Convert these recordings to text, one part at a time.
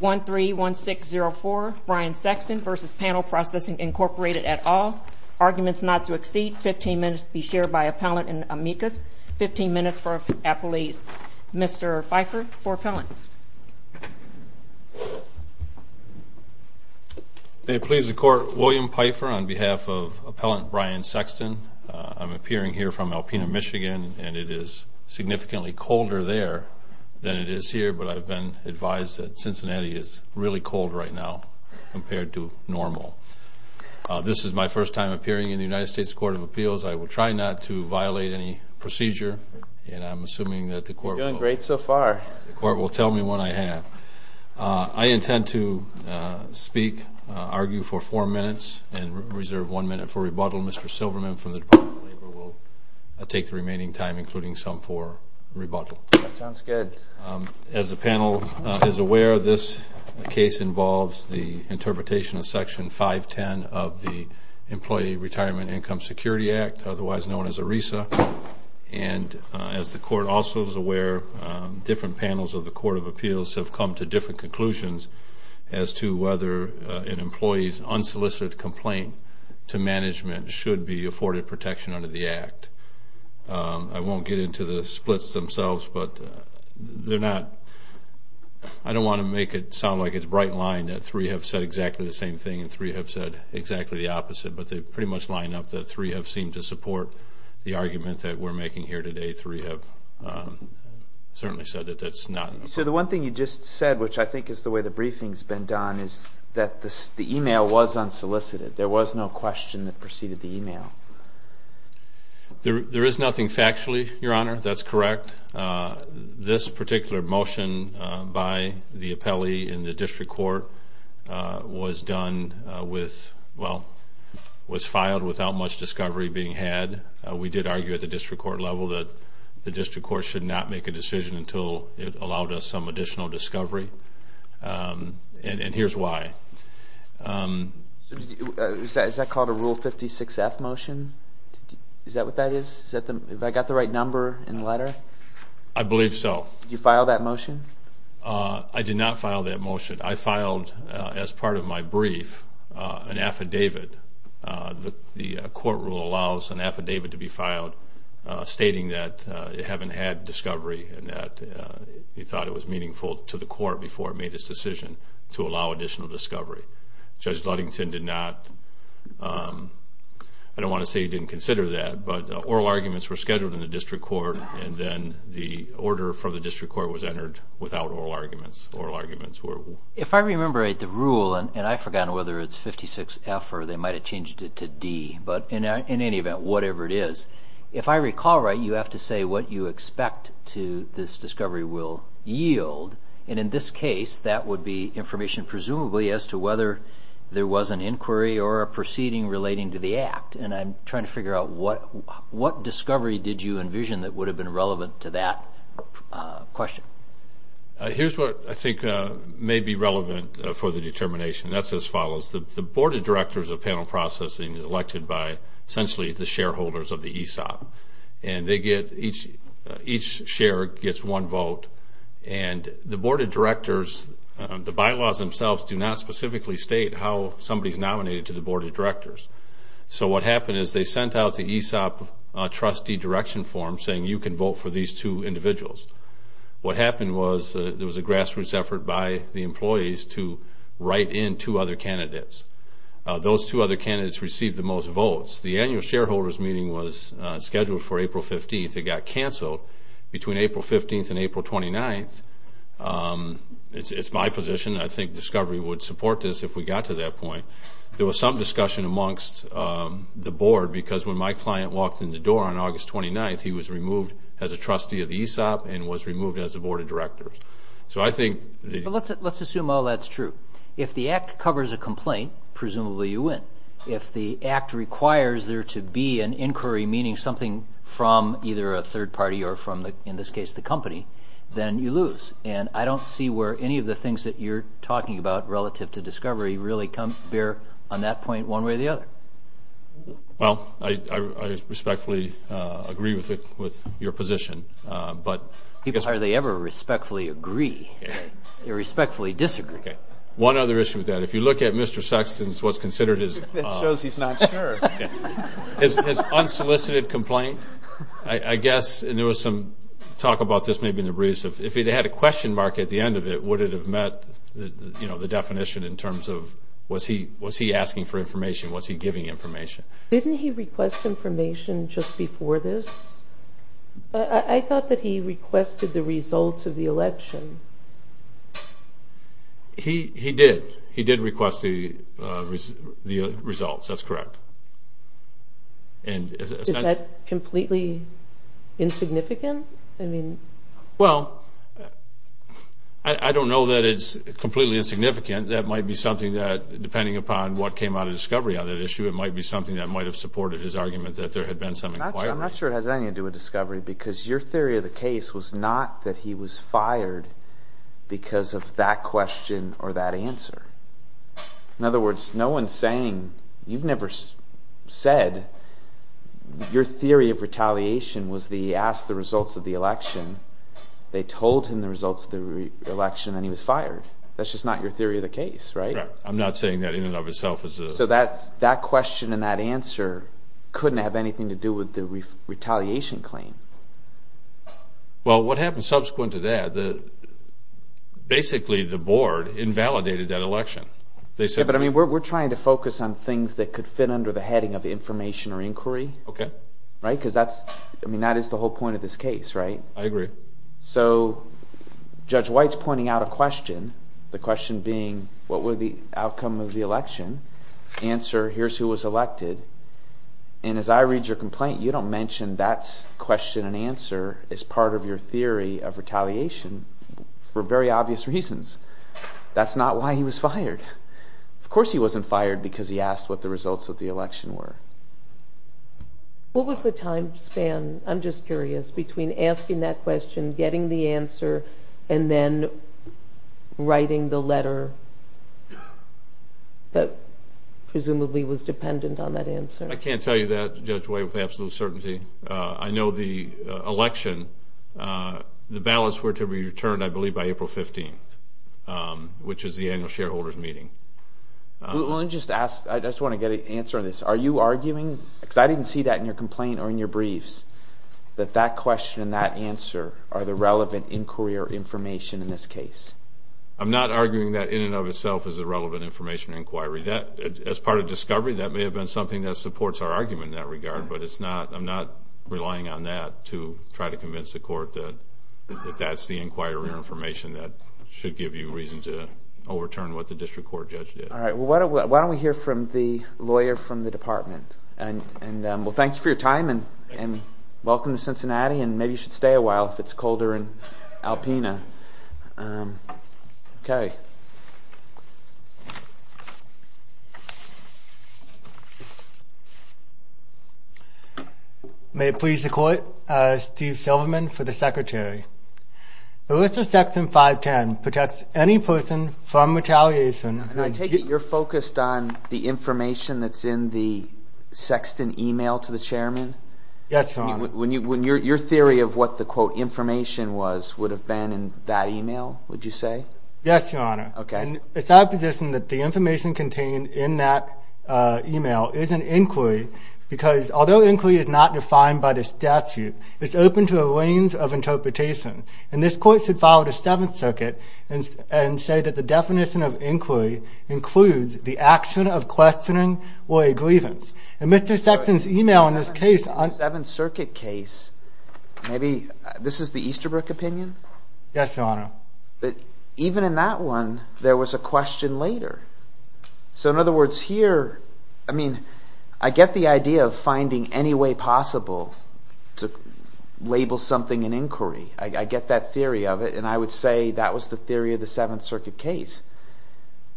131604 Brian Sexton v. Panel Processing Inc. at all. Arguments not to exceed 15 minutes to be shared by appellant and amicus. 15 minutes for appellees. Mr. Pfeiffer for appellant. It pleases the court, William Pfeiffer on behalf of appellant Brian Sexton. I'm appearing here from Alpena, Michigan, and it is significantly colder there than it is here, but I've been advised that Cincinnati is really cold right now compared to normal. This is my first time appearing in the United States Court of Appeals. I will try not to violate any procedure, and I'm assuming that the court will... You're doing great so far. The court will tell me what I have. I intend to speak, argue for four minutes and reserve one minute for rebuttal. Mr. Silverman from the Department of Labor will take the remaining time, including some for rebuttal. That sounds good. As the panel is aware, this case involves the interpretation of Section 510 of the Employee Retirement Income Security Act, otherwise known as ERISA. And as the court also is aware, different panels of the Court of Appeals have come to the same conclusion that there should be afforded protection under the Act. I won't get into the splits themselves, but they're not... I don't want to make it sound like it's a bright line that three have said exactly the same thing and three have said exactly the opposite, but they pretty much line up that three have seemed to support the argument that we're making here today. Three have certainly said that that's not... So the one thing you just said, which I think is the way the briefing's been done, is that the email was unsolicited. There was no question that preceded the email. There is nothing factually, Your Honor. That's correct. This particular motion by the appellee in the district court was done with... Well, was filed without much discovery being had. We did argue at the district court level that the district court should not make a decision until it allowed us some additional discovery, and here's why. Is that called a Rule 56-F motion? Is that what that is? Have I got the right number and letter? I believe so. Did you file that motion? I did not file that motion. I filed, as part of my brief, an affidavit. The court rule allows an affidavit to be filed stating that it haven't had discovery and that he thought it was meaningful to the court before it made his decision to allow additional discovery. Judge Ludington did not... I don't want to say he didn't consider that, but oral arguments were scheduled in the district court and then the order from the district court was entered without oral arguments. Oral arguments were... If I remember right, the rule, and I've forgotten whether it's 56-F or they might have changed it to D, but in any event, whatever it is, if I recall right, you have to say what you expect to this discovery will yield, and in this case, that would be information presumably as to whether there was an inquiry or a proceeding relating to the act, and I'm trying to figure out what discovery did you envision that would have been relevant to that question. Here's what I think may be relevant for the determination. That's as follows. The board of directors of panel processing is elected by essentially the shareholders of the ESOP, and they get... Each share gets one vote, and the board of directors, the bylaws themselves do not specifically state how somebody's nominated to the board of directors. So what happened is they sent out the ESOP trustee direction form saying you can vote for these two individuals. What happened was there was a grassroots effort by the employees to write in two other candidates. Those two other candidates received the most votes. The annual shareholders meeting was scheduled for April 15th. It got canceled between April 15th and April 29th. It's my position. I think discovery would support this if we got to that point. There was some discussion amongst the board because when my client walked in the door on August 29th, he was removed as a trustee of the ESOP and was removed as a board of a complaint. Presumably you win. If the act requires there to be an inquiry, meaning something from either a third party or from, in this case, the company, then you lose. And I don't see where any of the things that you're talking about relative to discovery really bear on that point one way or the other. Well, I respectfully agree with your position, but... Are they ever respectfully agree or respectfully disagree? One other issue with that, if you look at Mr. Sexton's what's considered his... That shows he's not sure. His unsolicited complaint, I guess, and there was some talk about this maybe in the briefs, if he'd had a question mark at the end of it, would it have met the definition in terms of was he asking for information? Was he giving information? Didn't he request information just before this? I thought that he requested the results of the election. He did. He did request the results. That's correct. Is that completely insignificant? Well, I don't know that it's completely insignificant. That might be something that, depending upon what came out of discovery on that issue, it might be something that might have supported his argument that there had been some inquiry. I'm not sure it has anything to do with discovery because your theory of the case was not that he was fired because of that question or that answer. In other words, no one's saying... You've never said your theory of retaliation was that he asked the results of the election, they told him the results of the election, and he was fired. That's just not your theory of the case, right? I'm not saying that in and of itself is a... So that question and that answer couldn't have anything to do with the retaliation claim. Well, what happened subsequent to that, basically the board invalidated that election. But I mean, we're trying to focus on things that could fit under the heading of information or inquiry. Okay. Right? Because that's... I mean, that is the whole point of this case, right? I agree. So Judge White's pointing out a question, the question being, what were the outcome of the election? Answer, here's who was elected. And as I read your complaint, you don't mention that question and answer as part of your theory of retaliation for very obvious reasons. That's not why he was fired. Of course he wasn't fired because he asked what the results of the election were. What was the time span, I'm just curious, between asking that question, getting the answer? I can't tell you that, Judge White, with absolute certainty. I know the election, the ballots were to be returned, I believe, by April 15th, which is the annual shareholders meeting. I just want to get an answer on this. Are you arguing, because I didn't see that in your complaint or in your briefs, that that question and that answer are the relevant inquiry or information in this case? I'm not arguing that in and of itself is a relevant information inquiry. As part of discovery, that may have been something that supports our argument in that regard, but I'm not relying on that to try to convince the court that that's the inquiry or information that should give you reason to overturn what the district court judge did. Why don't we hear from the lawyer from the department? Thank you for your time, and welcome to Cincinnati, and maybe you should stay a while if it's colder in Alpena. May it please the court, Steve Silverman for the secretary. The list of section 510 protects any person from retaliation... And I take it you're focused on the information that's in the Sexton email to the chairman? Yes, your honor. When your theory of what the quote information was would have been in that email, would you say? Yes, your honor. Okay. It's my position that the information contained in that email is an inquiry, because although inquiry is not defined by the statute, it's open to a range of interpretation, and this court should follow the Seventh Circuit and say that the definition of inquiry includes the action of questioning or a grievance. And Mr. Sexton's email in this case... The Easterbrook opinion? Yes, your honor. Even in that one, there was a question later. So in other words, here... I mean, I get the idea of finding any way possible to label something an inquiry. I get that theory of it, and I would say that was the theory of the Seventh Circuit case.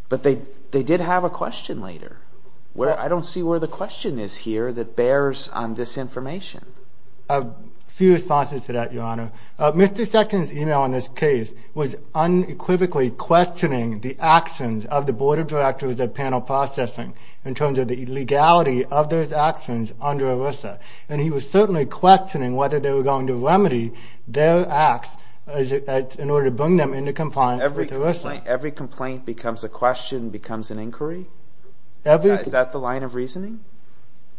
But they did have a question later. I don't see where the question is here that bears on this information. A few responses to that, your honor. Mr. Sexton's email in this case was unequivocally questioning the actions of the Board of Directors of Panel Processing in terms of the legality of those actions under ERISA. And he was certainly questioning whether they were going to remedy their acts in order to bring them into compliance with ERISA. Every complaint becomes a question, becomes an inquiry? Is that the line of reasoning?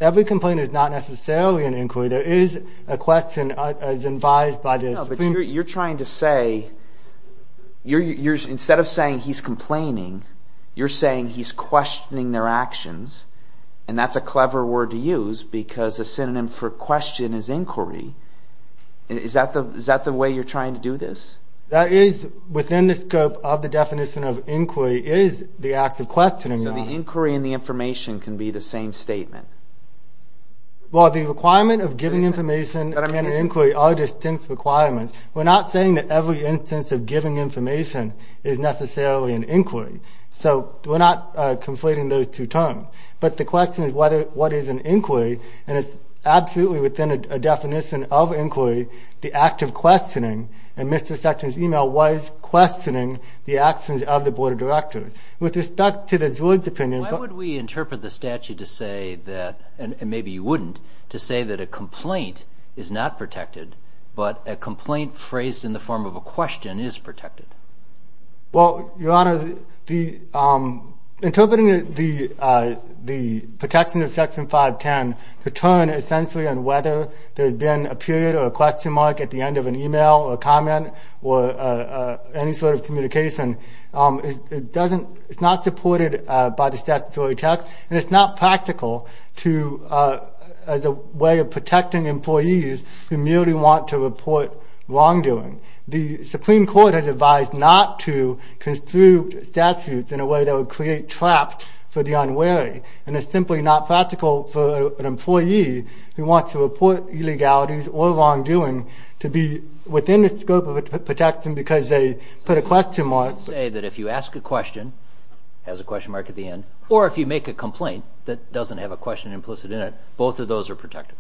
Every complaint is not necessarily an inquiry. There is a question as advised by the Supreme... No, but you're trying to say... Instead of saying he's complaining, you're saying he's questioning their actions. And that's a clever word to use because a synonym for question is inquiry. Is that the way you're trying to do this? That is within the scope of the definition of inquiry is the act of questioning, your honor. So the inquiry and the information can be the same statement? Well, the requirement of giving information and an inquiry are distinct requirements. We're not saying that every instance of giving information is necessarily an inquiry. So we're not conflating those two terms. But the question is what is an inquiry? And it's absolutely within a definition of inquiry, the act of questioning. And Mr. Sexton's email was questioning the actions of the Board of Directors. With respect to the judge's opinion... Why would we interpret the statute to say that, and maybe you wouldn't, to say that a complaint is not protected, but a complaint phrased in the form of a question is protected? Well, your honor, interpreting the protection of Section 510 to turn essentially on whether there's been a period or a question mark at the end of an email or a comment or any sort of communication, it's not supported by the statutory text. And it's not practical to, as a way of protecting employees who merely want to report wrongdoing. The Supreme Court has advised not to construe statutes in a way that would create traps for the unwary. And it's simply not practical for an employee who wants to report illegalities or wrongdoing to be within the scope of a protection because they put a question mark. Say that if you ask a question, it has a question mark at the end, or if you make a complaint that doesn't have a question implicit in it, both of those are protected.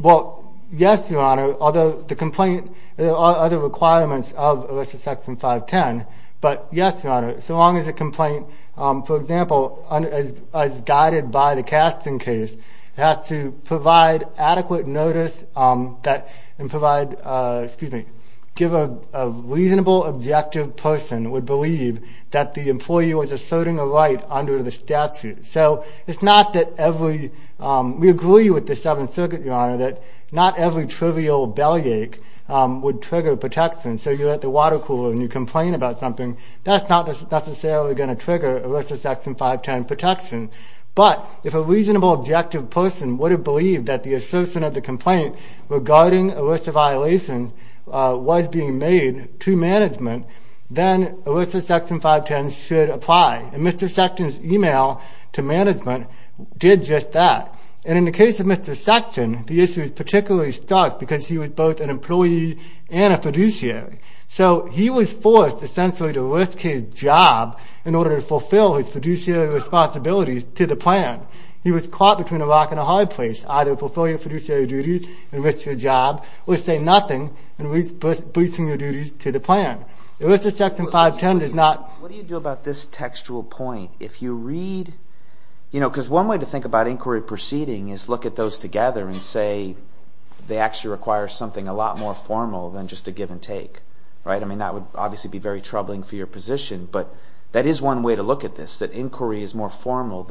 Well, yes, your honor, although the complaint, there are other requirements of ERISA Section 510, but yes, your honor, so long as a complaint, for example, as guided by the Casting Case, has to provide adequate notice and provide, excuse me, give a reasonable, objective person would believe that the employee was asserting a right under the statute. So it's not that every, we agree with the Seventh Circuit, your honor, that not every trivial bellyache would trigger protection. So you're at the water cooler and you complain about something, that's not necessarily going to trigger ERISA Section 510 protection. But if a reasonable, objective person would have a complaint regarding ERISA violations was being made to management, then ERISA Section 510 should apply. And Mr. Sexton's email to management did just that. And in the case of Mr. Sexton, the issue is particularly stark because he was both an employee and a fiduciary. So he was forced essentially to risk his job in order to fulfill his fiduciary responsibilities to the plan. He was caught between a rock and a hard place, either fulfilling a fiduciary duty and risk your job, or say nothing and risk boosting your duties to the plan. ERISA Section 510 does not... What do you do about this textual point? If you read, you know, because one way to think about inquiry proceeding is look at those together and say, they actually require something a lot more formal than just a give and take, right? I mean, that would obviously be very troubling for your position, but that is one way to look at this, that inquiry is more than just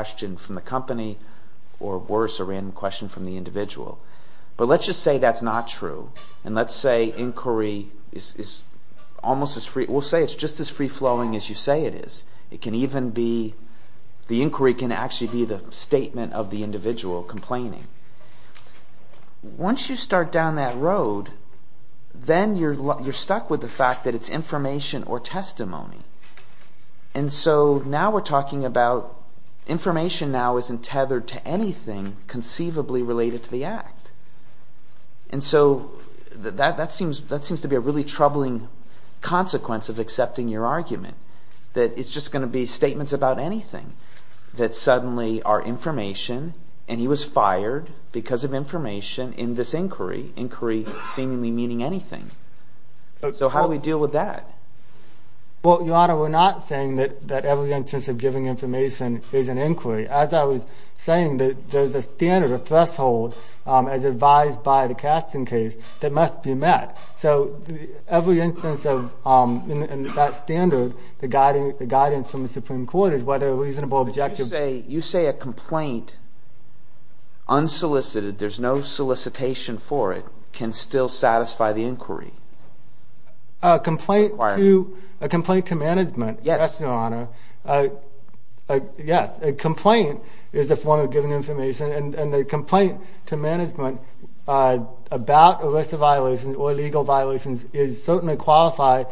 an individual. But let's just say that's not true. And let's say inquiry is almost as free, we'll say it's just as free flowing as you say it is. It can even be, the inquiry can actually be the statement of the individual complaining. Once you start down that road, then you're stuck with the fact that it's information or testimony. And so now we're talking about information now isn't tethered to anything conceivably related to the act. And so that seems to be a really troubling consequence of accepting your argument that it's just going to be statements about anything that suddenly are information and he was fired because of information in this inquiry, inquiry seemingly meaning anything. So how do we deal with that? Well, Your Honor, we're not saying that every instance of giving information is an inquiry. As I was saying that there's a standard, a threshold as advised by the Casting case that must be met. So every instance of that standard, the guidance from the Supreme Court is whether a reasonable objective... You say a complaint, unsolicited, there's no solicitation for it, can still satisfy the inquiry? A complaint to management, yes, Your Honor. Yes, a complaint is a form of giving information and the complaint to management about a list of violations or legal violations is certainly qualified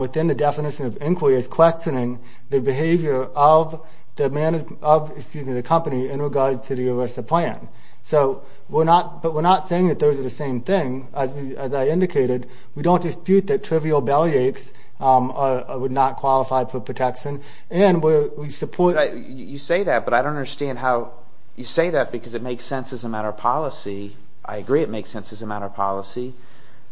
within the definition of inquiry as questioning the behavior of the management of, excuse me, the company in regards to the ERISA plan. So we're not, but we're not saying that those are the same thing. As I indicated, we don't dispute that trivial bellyaches would not qualify for protection and we support... You say that, but I don't understand how you say that because it makes sense as a matter of policy. I agree it makes sense as a matter of policy,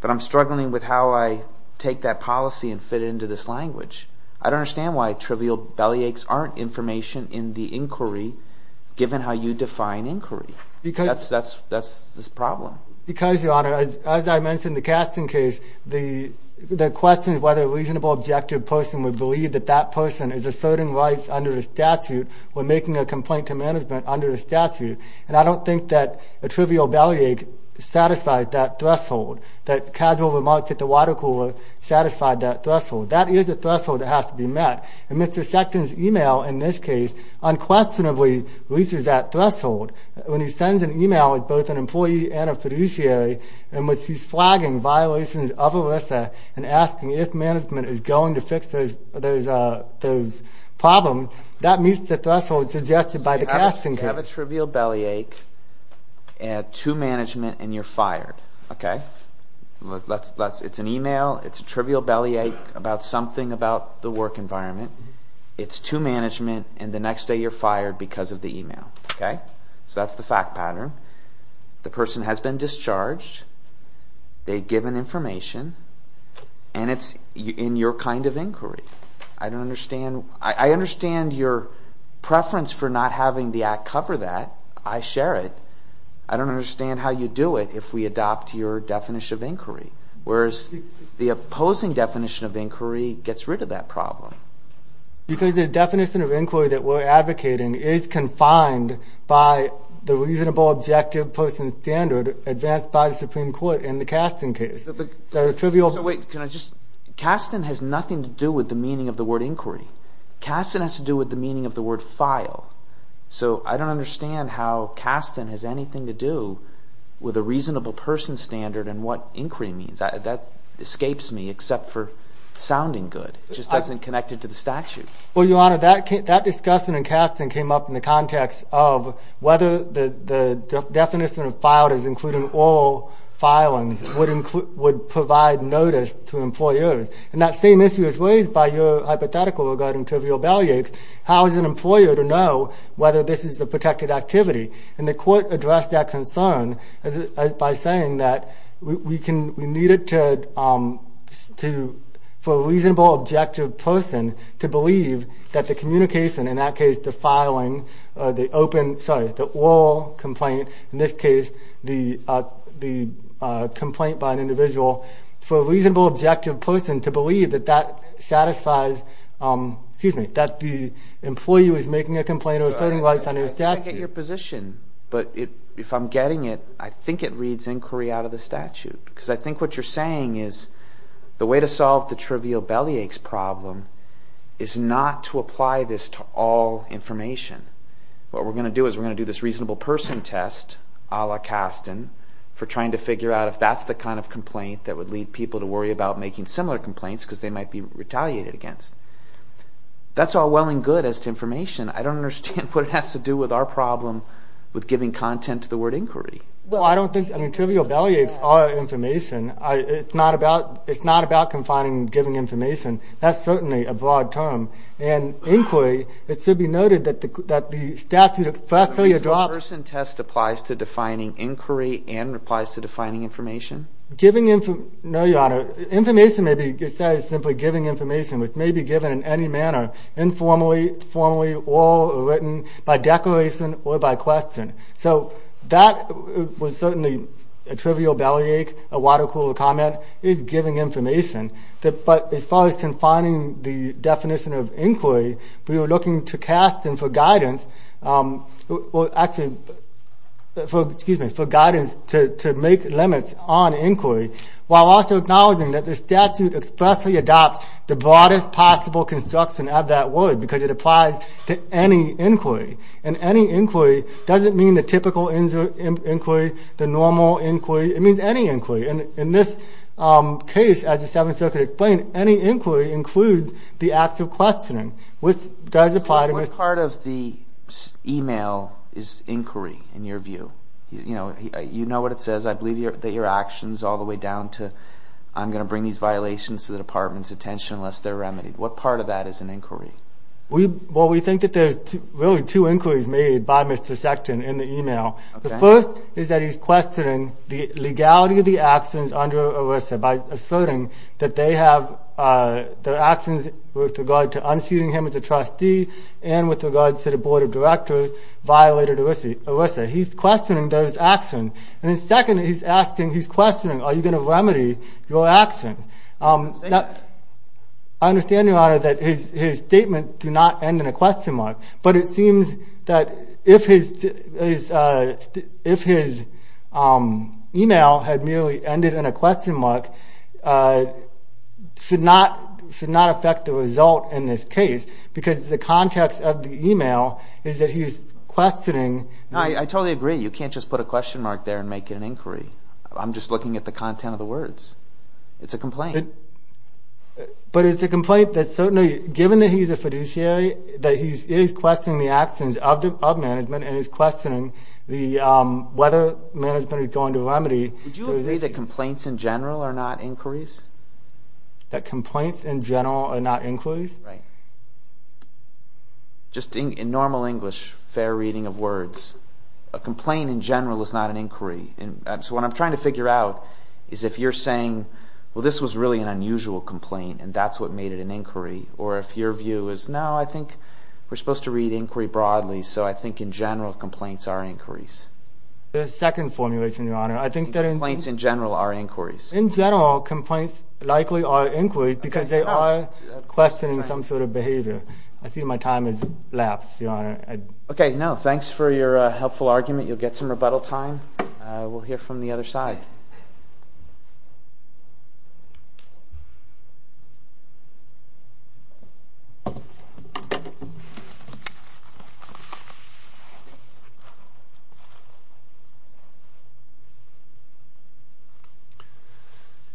but I'm struggling with how I take that policy and fit it into this language. I don't understand why trivial bellyaches aren't information in the inquiry given how you define inquiry. That's the problem. Because Your Honor, as I mentioned in the Kasten case, the question is whether a reasonable objective person would believe that that person is asserting rights under the statute when making a complaint to management under the statute. And I don't think that a trivial bellyache satisfies that threshold, that casual remarks at the water cooler satisfy that threshold. That is a threshold that has to be met. And Mr. Sexton's email, in this case, unquestionably reaches that threshold. When he sends an email with both an employee and a fiduciary in which he's flagging violations of ERISA and asking if management is going to fix those problems, that meets the threshold suggested by the Kasten case. You have a trivial bellyache to management and you're fired. Okay? It's an email, it's about something about the work environment, it's to management, and the next day you're fired because of the email. Okay? So that's the fact pattern. The person has been discharged, they've given information, and it's in your kind of inquiry. I understand your preference for not having the Act cover that. I share it. I don't understand how you do it if we have opposing definition of inquiry gets rid of that problem. Because the definition of inquiry that we're advocating is confined by the reasonable objective person standard advanced by the Supreme Court in the Kasten case. Wait, can I just... Kasten has nothing to do with the meaning of the word inquiry. Kasten has to do with the meaning of the word file. So I don't understand how Kasten has anything to do with a reasonable person standard and what inquiry means. That escapes me except for sounding good. It just doesn't connect it to the statute. Well, Your Honor, that discussion in Kasten came up in the context of whether the definition of filed as including oral filings would provide notice to employers. And that same issue is raised by your hypothetical regarding trivial bellyaches. How is an employer to know whether this is a protected activity? And the court addressed that concern by saying that we need it for a reasonable objective person to believe that the communication, in that case the filing or the open, sorry, the oral complaint, in this case the complaint by an individual, for a reasonable objective person to believe that that satisfies, excuse me, that the employee was making a complaint or was setting lights on his statute. I get your position. But if I'm getting it, I think it reads inquiry out of the statute. Because I think what you're saying is the way to solve the trivial bellyaches problem is not to apply this to all information. What we're going to do is we're going to do this reasonable person test, a la Kasten, for trying to figure out if that's the kind of complaint that would lead people to worry about making similar complaints because they might be retaliated against. That's all well and good as to information. I don't understand what it has to do with our problem with giving content to the word inquiry. Well, I don't think, I mean, trivial bellyaches are information. It's not about confining giving information. That's certainly a broad term. And inquiry, it should be noted that the statute expressly adopts... Reasonable person test applies to defining inquiry and applies to defining information? No, Your Honor. Information may be said as simply giving information, which may be given in any manner, informally, formally, or written, by declaration, or by question. So that was certainly a trivial bellyache, a water-cooled comment, is giving information. But as far as confining the definition of inquiry, we were looking to Kasten for guidance, excuse me, for guidance to make limits on inquiry, while also acknowledging that the statute expressly adopts the broadest possible construction of that word because it applies to any inquiry. And any inquiry doesn't mean the typical inquiry, the normal inquiry. It means any inquiry. In this case, as the Seventh Circuit explained, any inquiry includes the acts of questioning, which does apply to... What part of the email is inquiry, in your view? You know what it says. I believe that your actions all the way down to, I'm going to bring these violations to the department's attention unless they're remedied. What part of that is an inquiry? We think that there's really two inquiries made by Mr. Sexton in the email. The first is that he's questioning the legality of the actions under ERISA by asserting that they have, their actions with regard to unseating him as a trustee and with regard to the Board of Directors violated ERISA. He's questioning those actions. And then secondly, he's asking, he's questioning, are you going to remedy your actions? I understand, Your Honor, that his statement did not end in a question mark, but it seems that if his email had merely ended in a question mark, it should not affect the result in this case, because the context of the email is that he's questioning... I totally agree. You can't just put a question mark there and make it an inquiry. I'm just looking at the content of the words. It's a complaint. But it's a complaint that certainly, given that he's a fiduciary, that he is questioning the actions of management and he's questioning whether management is going to remedy... Would you agree that complaints in general are not inquiries? That complaints in general are not inquiries? Just in normal English, fair reading of words, a complaint in general is not an inquiry. So what I'm trying to figure out is if you're saying, well, this was really an unusual complaint and that's what made it an inquiry, or if your view is, no, I think we're supposed to read inquiry broadly, so I think in general complaints are inquiries. The second formulation, your honor, I think that... Complaints in general are inquiries. In general, complaints likely are inquiries because they are questioning some sort of behavior. I see my time has lapsed, your honor. Okay, no, thanks for your helpful argument. You'll get some rebuttal time. We'll hear from the other side.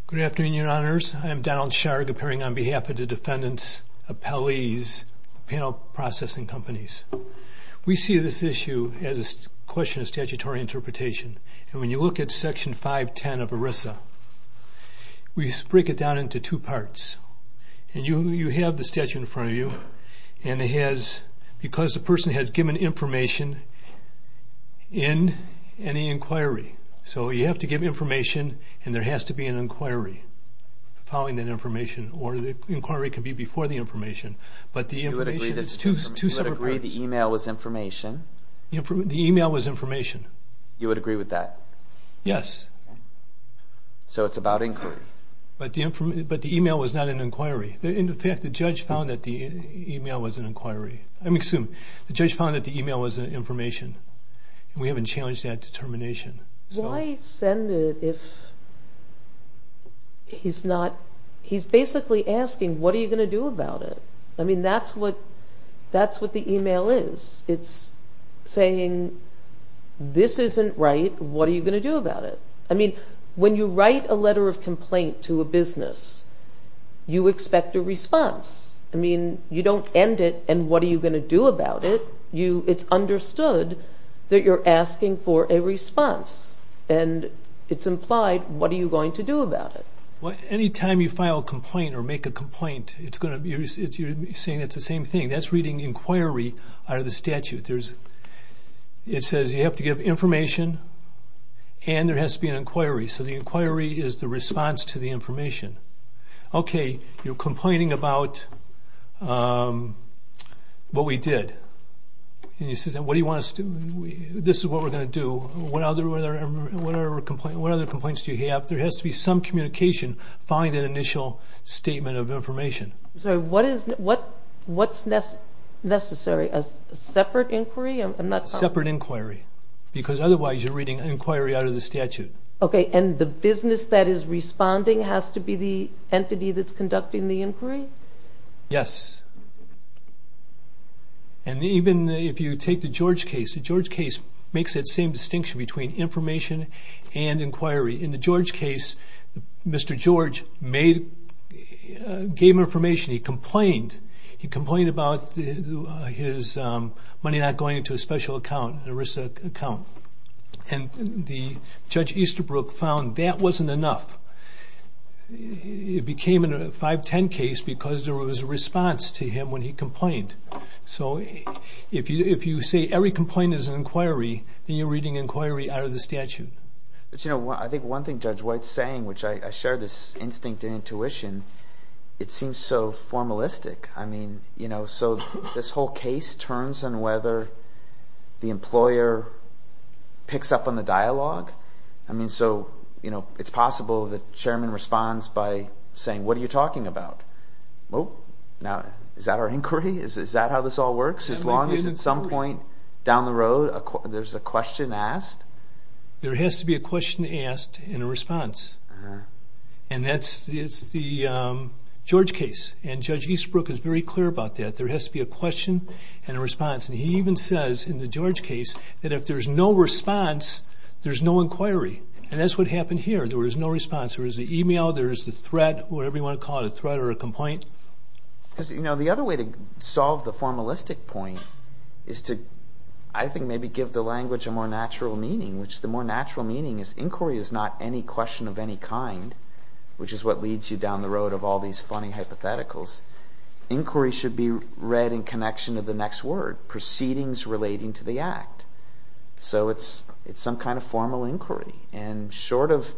Good afternoon, your honors. I'm Donald Sharg, appearing on behalf of the defendants, appellees, panel processing companies. We see this issue as a question of statutory interpretation. And when you look at section 510 of ERISA, we break it down into two parts. And you have the statute in front of you and it has, because the person has given information in any inquiry. So you have to give information and there has to be an inquiry following that information. Or the inquiry can be before the information, but the information is two separate parts. You would agree the email was information? The email was information. You would agree with that? Yes. So it's about inquiry. But the email was not an inquiry. In fact, the judge found that the email was an inquiry. I'm assuming. The judge found that the email was information. We haven't challenged that determination. Why send it if he's not, he's basically asking, what are you going to do about it? I mean, that's what that's what the email is. It's saying, this isn't right, what are you going to do about it? When you write a letter of complaint to a business, you expect a response. I mean, you don't end it and what are you going to do about it? It's understood that you're asking for a response. And it's implied, what are you going to do about it? Well, anytime you file a complaint or make a complaint, it's going to be, you're saying it's the same thing. That's reading inquiry out of the statute. It says you have to give information and there has to be an inquiry. So the inquiry is the response to the information. Okay, you're complaining about what we did. And you say, what do you want us to do? This is what we're going to do. What other complaints do you have? There has to be some communication following that initial statement of information. So what is, what's necessary? A separate inquiry? A separate inquiry. Because otherwise you're reading inquiry out of the statute. Okay, and the business that is responding has to be the entity that's conducting the inquiry? Yes. And even if you take the George case, the George case makes that same distinction between information and inquiry. In the George case, Mr. George made, gave him information. He complained. He complained about his money not going into a special account, an ERISA account. And Judge Easterbrook found that wasn't enough. It became a 510 case because there was a response to him when he complained. So if you say every complaint is an inquiry, then you're reading inquiry out of the statute. But you know, I think one thing Judge White's saying, which I share this instinct and intuition, it seems so formalistic. I mean, you know, so this whole case turns on whether the employer picks up on the dialogue. I mean, so, you know, it's possible the chairman responds by saying, what are you talking about? Now, is that our inquiry? Is that how this all works? As long as at some point down the road there's a question asked? There has to be a question asked and a response. And that's, it's the George case. And Judge Easterbrook is very clear about that. There has to be a question and a response. And he even says in the George case that if there's no response, there's no inquiry. And that's what happened here. There was no response. There was an email, there was a threat, whatever you want to call it, a threat or a complaint. You know, the other way to solve the formalistic point is to, I think, maybe give the language a more natural meaning, which the more natural meaning is inquiry is not any question of any kind, which is what leads you down the road of all these funny hypotheticals. Inquiry should be read in connection to the next word, proceedings relating to the act. So it's some kind of formal inquiry. And short of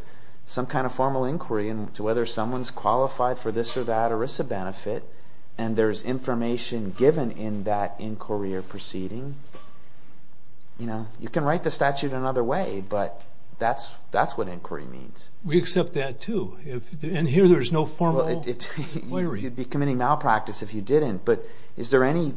some kind of formal inquiry into whether someone's qualified for this or that ERISA benefit, and there's information given in that inquiry or proceeding, you know, you can write the statute another way, but that's what inquiry means. We accept that too. And here there's no formal inquiry. You'd be committing malpractice if you didn't. But is there any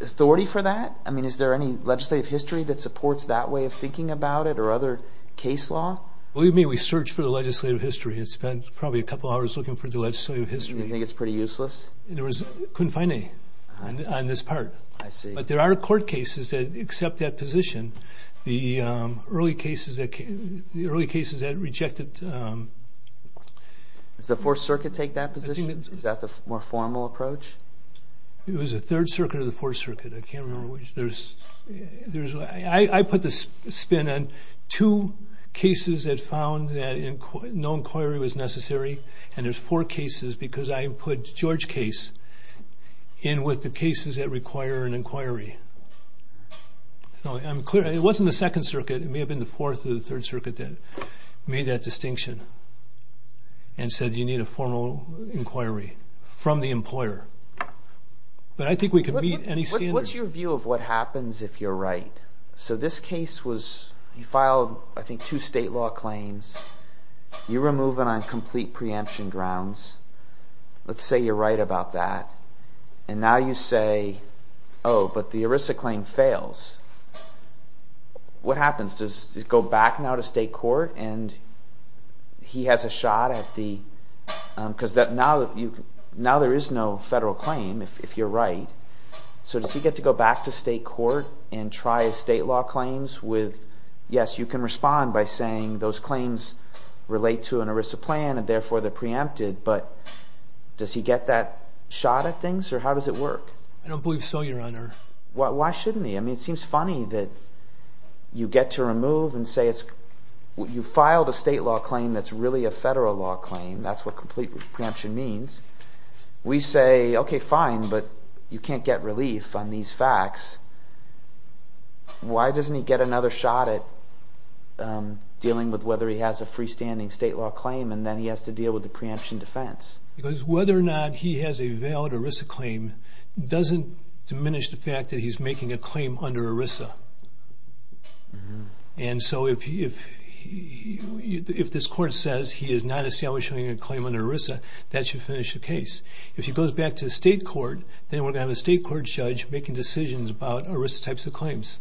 authority for that? I mean, is there any legislative history that supports that way of thinking about it or other case law? Believe me, we searched for the legislative history and spent probably a couple hours looking for the legislative history. You think it's pretty useless? There was, couldn't find any on this part. I see. But there are court cases that accept that position. The early cases that rejected... Does the Fourth Circuit take that position? Is that the more formal approach? It was the Third Circuit or the Fourth Circuit. I can't remember which. I put the spin on two cases that found that no inquiry was necessary, and there's four cases because I put George Case in with the cases that require an inquiry. I'm clear, it wasn't the Second Circuit. It may have been the Fourth or the Third Circuit that made that distinction and said you need a formal inquiry from the employer. But I think we could meet any standard... What's your view of what happens if you're right? So this case was, you filed, I think, two state law claims. You remove them on complete preemption grounds. Let's say you're right about that. And now you say, oh, but the ERISA claim fails. What happens? Does he go back now to state court and he has a shot at the... Because now there is no federal claim if you're right. So does he get to go back to state court and try state law claims with, yes, you can respond by saying those claims relate to an ERISA plan and therefore they're preempted, I don't believe so, Your Honor. Why shouldn't he? I mean, it seems funny that you get to remove and say it's... You filed a state law claim that's really a federal law claim. That's what complete preemption means. We say, okay, fine, but you can't get relief on these facts. Why doesn't he get another shot at dealing with whether he has a freestanding state law claim and then he has to deal with the preemption defense? Because whether or not he has a valid ERISA claim doesn't diminish the fact that he's making a claim under ERISA. And so if this court says he is not establishing a claim under ERISA, that should finish the case. If he goes back to state court, then we're going to have a state court judge making decisions about ERISA types of claims.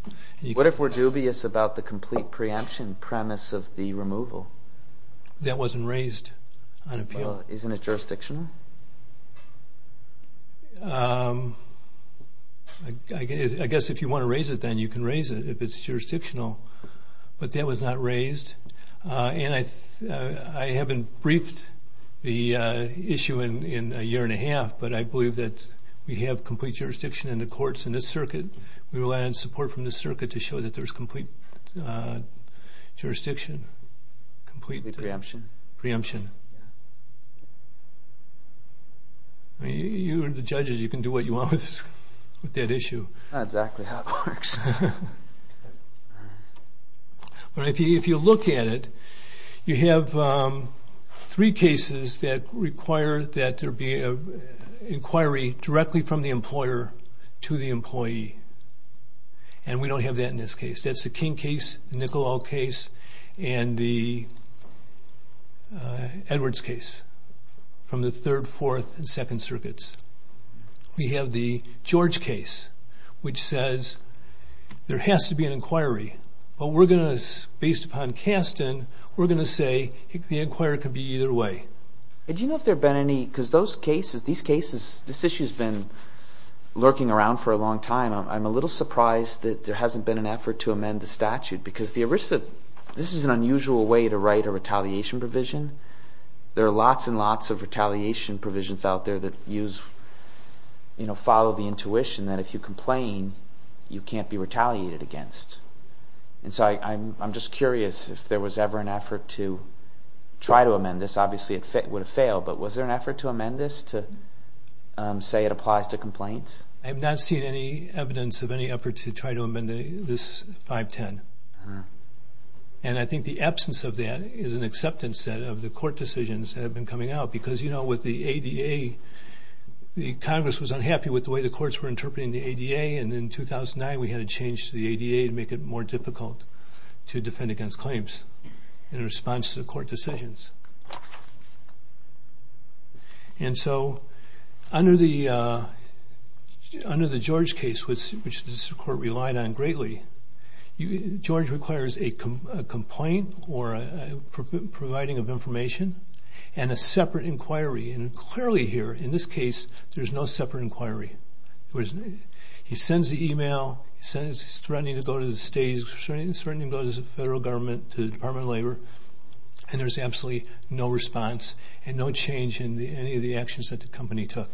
What if we're dubious about the complete preemption premise of the removal? That wasn't raised on appeal. Well, isn't it jurisdictional? I guess if you want to raise it, then you can raise it if it's jurisdictional, but that was not raised. And I haven't briefed the issue in a year and a half, but I believe that we have complete jurisdiction in the courts in this circuit. We rely on support from the circuit to show that there's complete jurisdiction, complete preemption. You are the judges. You can do what you want with that issue. That's not exactly how it works. But if you look at it, you have three cases that require that there be an inquiry directly from the employer to the employee. And we don't have that in this case. That's the King case, the Nicolau case, and the Edwards case from the third, fourth, and second circuits. We have the George case, which says there has to be an inquiry. But we're going to, based upon Kasten, we're going to say the inquiry could be either way. Do you know if there have been any, because these cases, this issue has been lurking around for a long time. I'm a little surprised that there hasn't been an effort to amend the statute, because this is an unusual way to write a retaliation provision. There are lots and lots of retaliation provisions out there that follow the intuition that if you complain, you can't be retaliated against. And so I'm just curious if there was ever an effort to try to amend this. Obviously, it would have failed. But was there an effort to amend this to say it applies to complaints? I have not seen any evidence of any effort to try to amend this 510. And I think the absence of that is an acceptance of the court decisions that have been coming out. Because with the ADA, Congress was unhappy with the way the courts were interpreting the ADA. And in 2009, we had to change the ADA to make it more difficult to defend against claims in response to the court decisions. And so under the George case, which this court relied on greatly, George requires a complaint or a providing of information and a separate inquiry. And clearly here, in this case, there's no separate inquiry. He sends the email, he says he's threatening to go to the states, he's threatening to go to the federal government, to the Department of Labor, and there's absolutely no response and no change in any of the actions that the company took.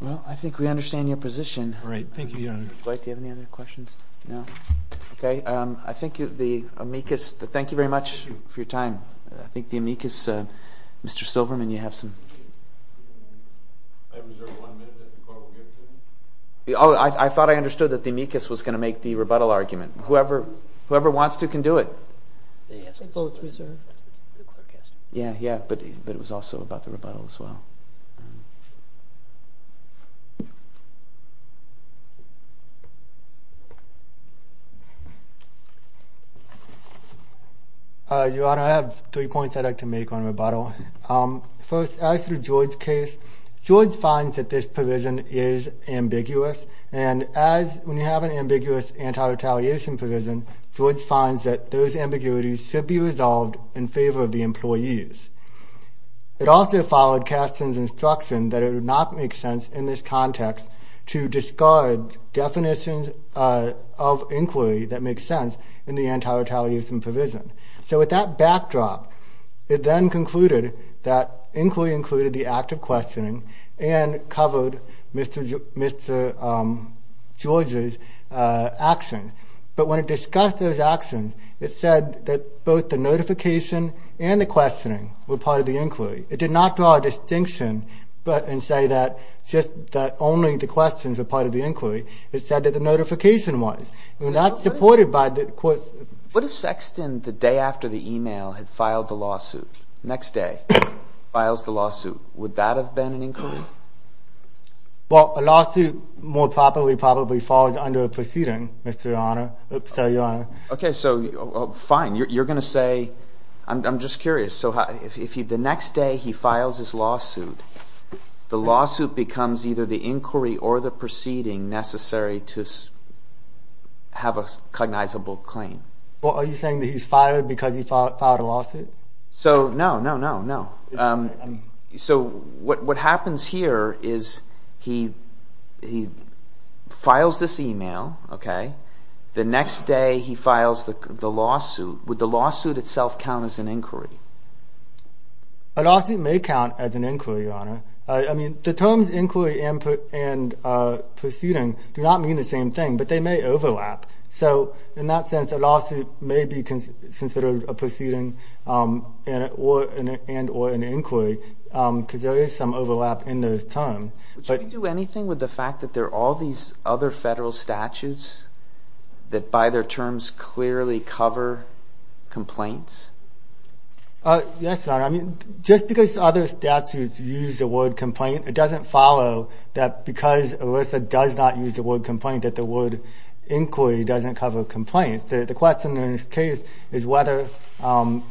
Well, I think we understand your position. All right. Thank you, Your Honor. Do you have any other questions? No? Okay. I think the amicus, thank you very much for your time. I think the amicus, Mr. Silverman, you have some... I have reserved one minute that the court will give to me. I thought I understood that the amicus was going to make the rebuttal argument. Whoever wants to can do it. They both reserve. Yeah, yeah, but it was also about the rebuttal as well. Your Honor, I have three points I'd like to make on rebuttal. First, as for George's case, George finds that this provision is ambiguous, and as when you have an ambiguous anti-retaliation provision, George finds that those ambiguities should be resolved in favor of the employees. It also followed Kasten's instruction that it would not make sense in this context to discard definitions of inquiry that make sense in the anti-retaliation provision. So with that backdrop, it then concluded that inquiry included the act of questioning and covered Mr. George's actions. But when it discussed those actions, it said that both the notification and the questioning were part of the inquiry. It did not draw a distinction and say that only the questions were part of the inquiry. It said that the notification was. We're not supported by the court. What if Sexton, the day after the email, had filed the lawsuit? Next day, files the lawsuit. Would that have been an inquiry? Well, a lawsuit more probably falls under a proceeding, Mr. Your Honor. Okay, so fine. You're going to say, I'm just curious. So if the next day he files his lawsuit, the lawsuit becomes either the inquiry or the proceeding necessary to have a cognizable claim. Well, are you saying that he's filed because he filed a lawsuit? So, no, no, no, no. So what happens here is he files this email, okay? The next day he files the lawsuit. Would the lawsuit itself count as an inquiry? A lawsuit may count as an inquiry, Your Honor. I mean, the terms inquiry and proceeding do not mean the same thing, but they may overlap. So in that sense, a lawsuit may be considered a proceeding and or an inquiry, because there is some overlap in those terms. Would you do anything with the fact that there are all these other federal statutes that by their terms clearly cover complaints? Yes, Your Honor. I mean, just because other statutes use the word complaint, it doesn't follow that because ERISA does not use the word complaint that the word inquiry doesn't cover complaints. The question in this case is whether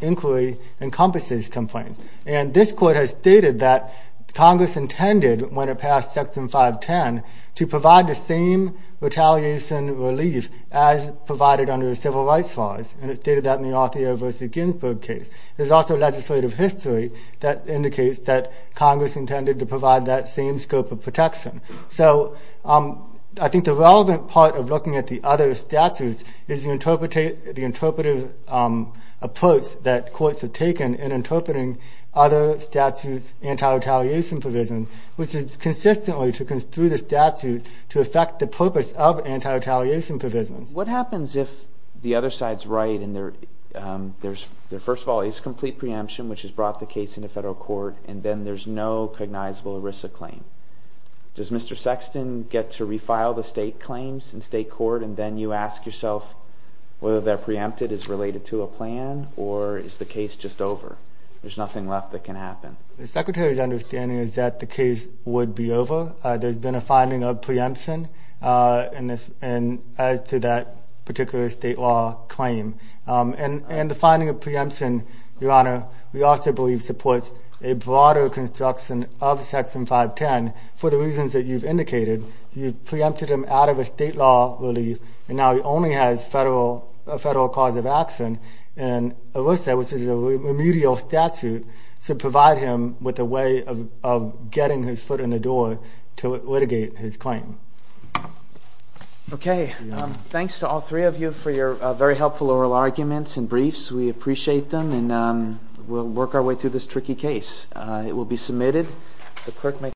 inquiry encompasses complaints. And this court has stated that Congress intended when it passed Section 510 to provide the same retaliation relief as provided under the Civil Rights laws. And it stated that in the Althea v. Ginsburg case. There's also legislative history that indicates that Congress intended to provide that same scope of protection. So I think the relevant part of looking at the other statutes is the interpretative approach that courts have taken in interpreting other statutes' anti-retaliation provisions, which is consistently to construe the statute to affect the purpose of anti-retaliation provisions. What happens if the other side's right and there first of all is complete preemption, which has brought the case into federal court, and then there's no cognizable ERISA claim? Does Mr. Sexton get to refile the state claims in state court and then you ask yourself whether that preempted is related to a plan or is the case just over? There's nothing left that can happen. The Secretary's understanding is that the case would be over. There's been a finding of preemption as to that particular state law claim. And the finding of preemption, Your Honor, we also believe supports a broader construction of Section 510 for the reasons that you've indicated. You've preempted him out of a state law relief and now he only has a federal cause of action. And ERISA, which is a remedial statute, should provide him with a way of getting his foot in the door to litigate his claim. Okay. Thanks to all three of you for your very helpful oral arguments and briefs. We appreciate them. And we'll work our way through this tricky case. It will be submitted.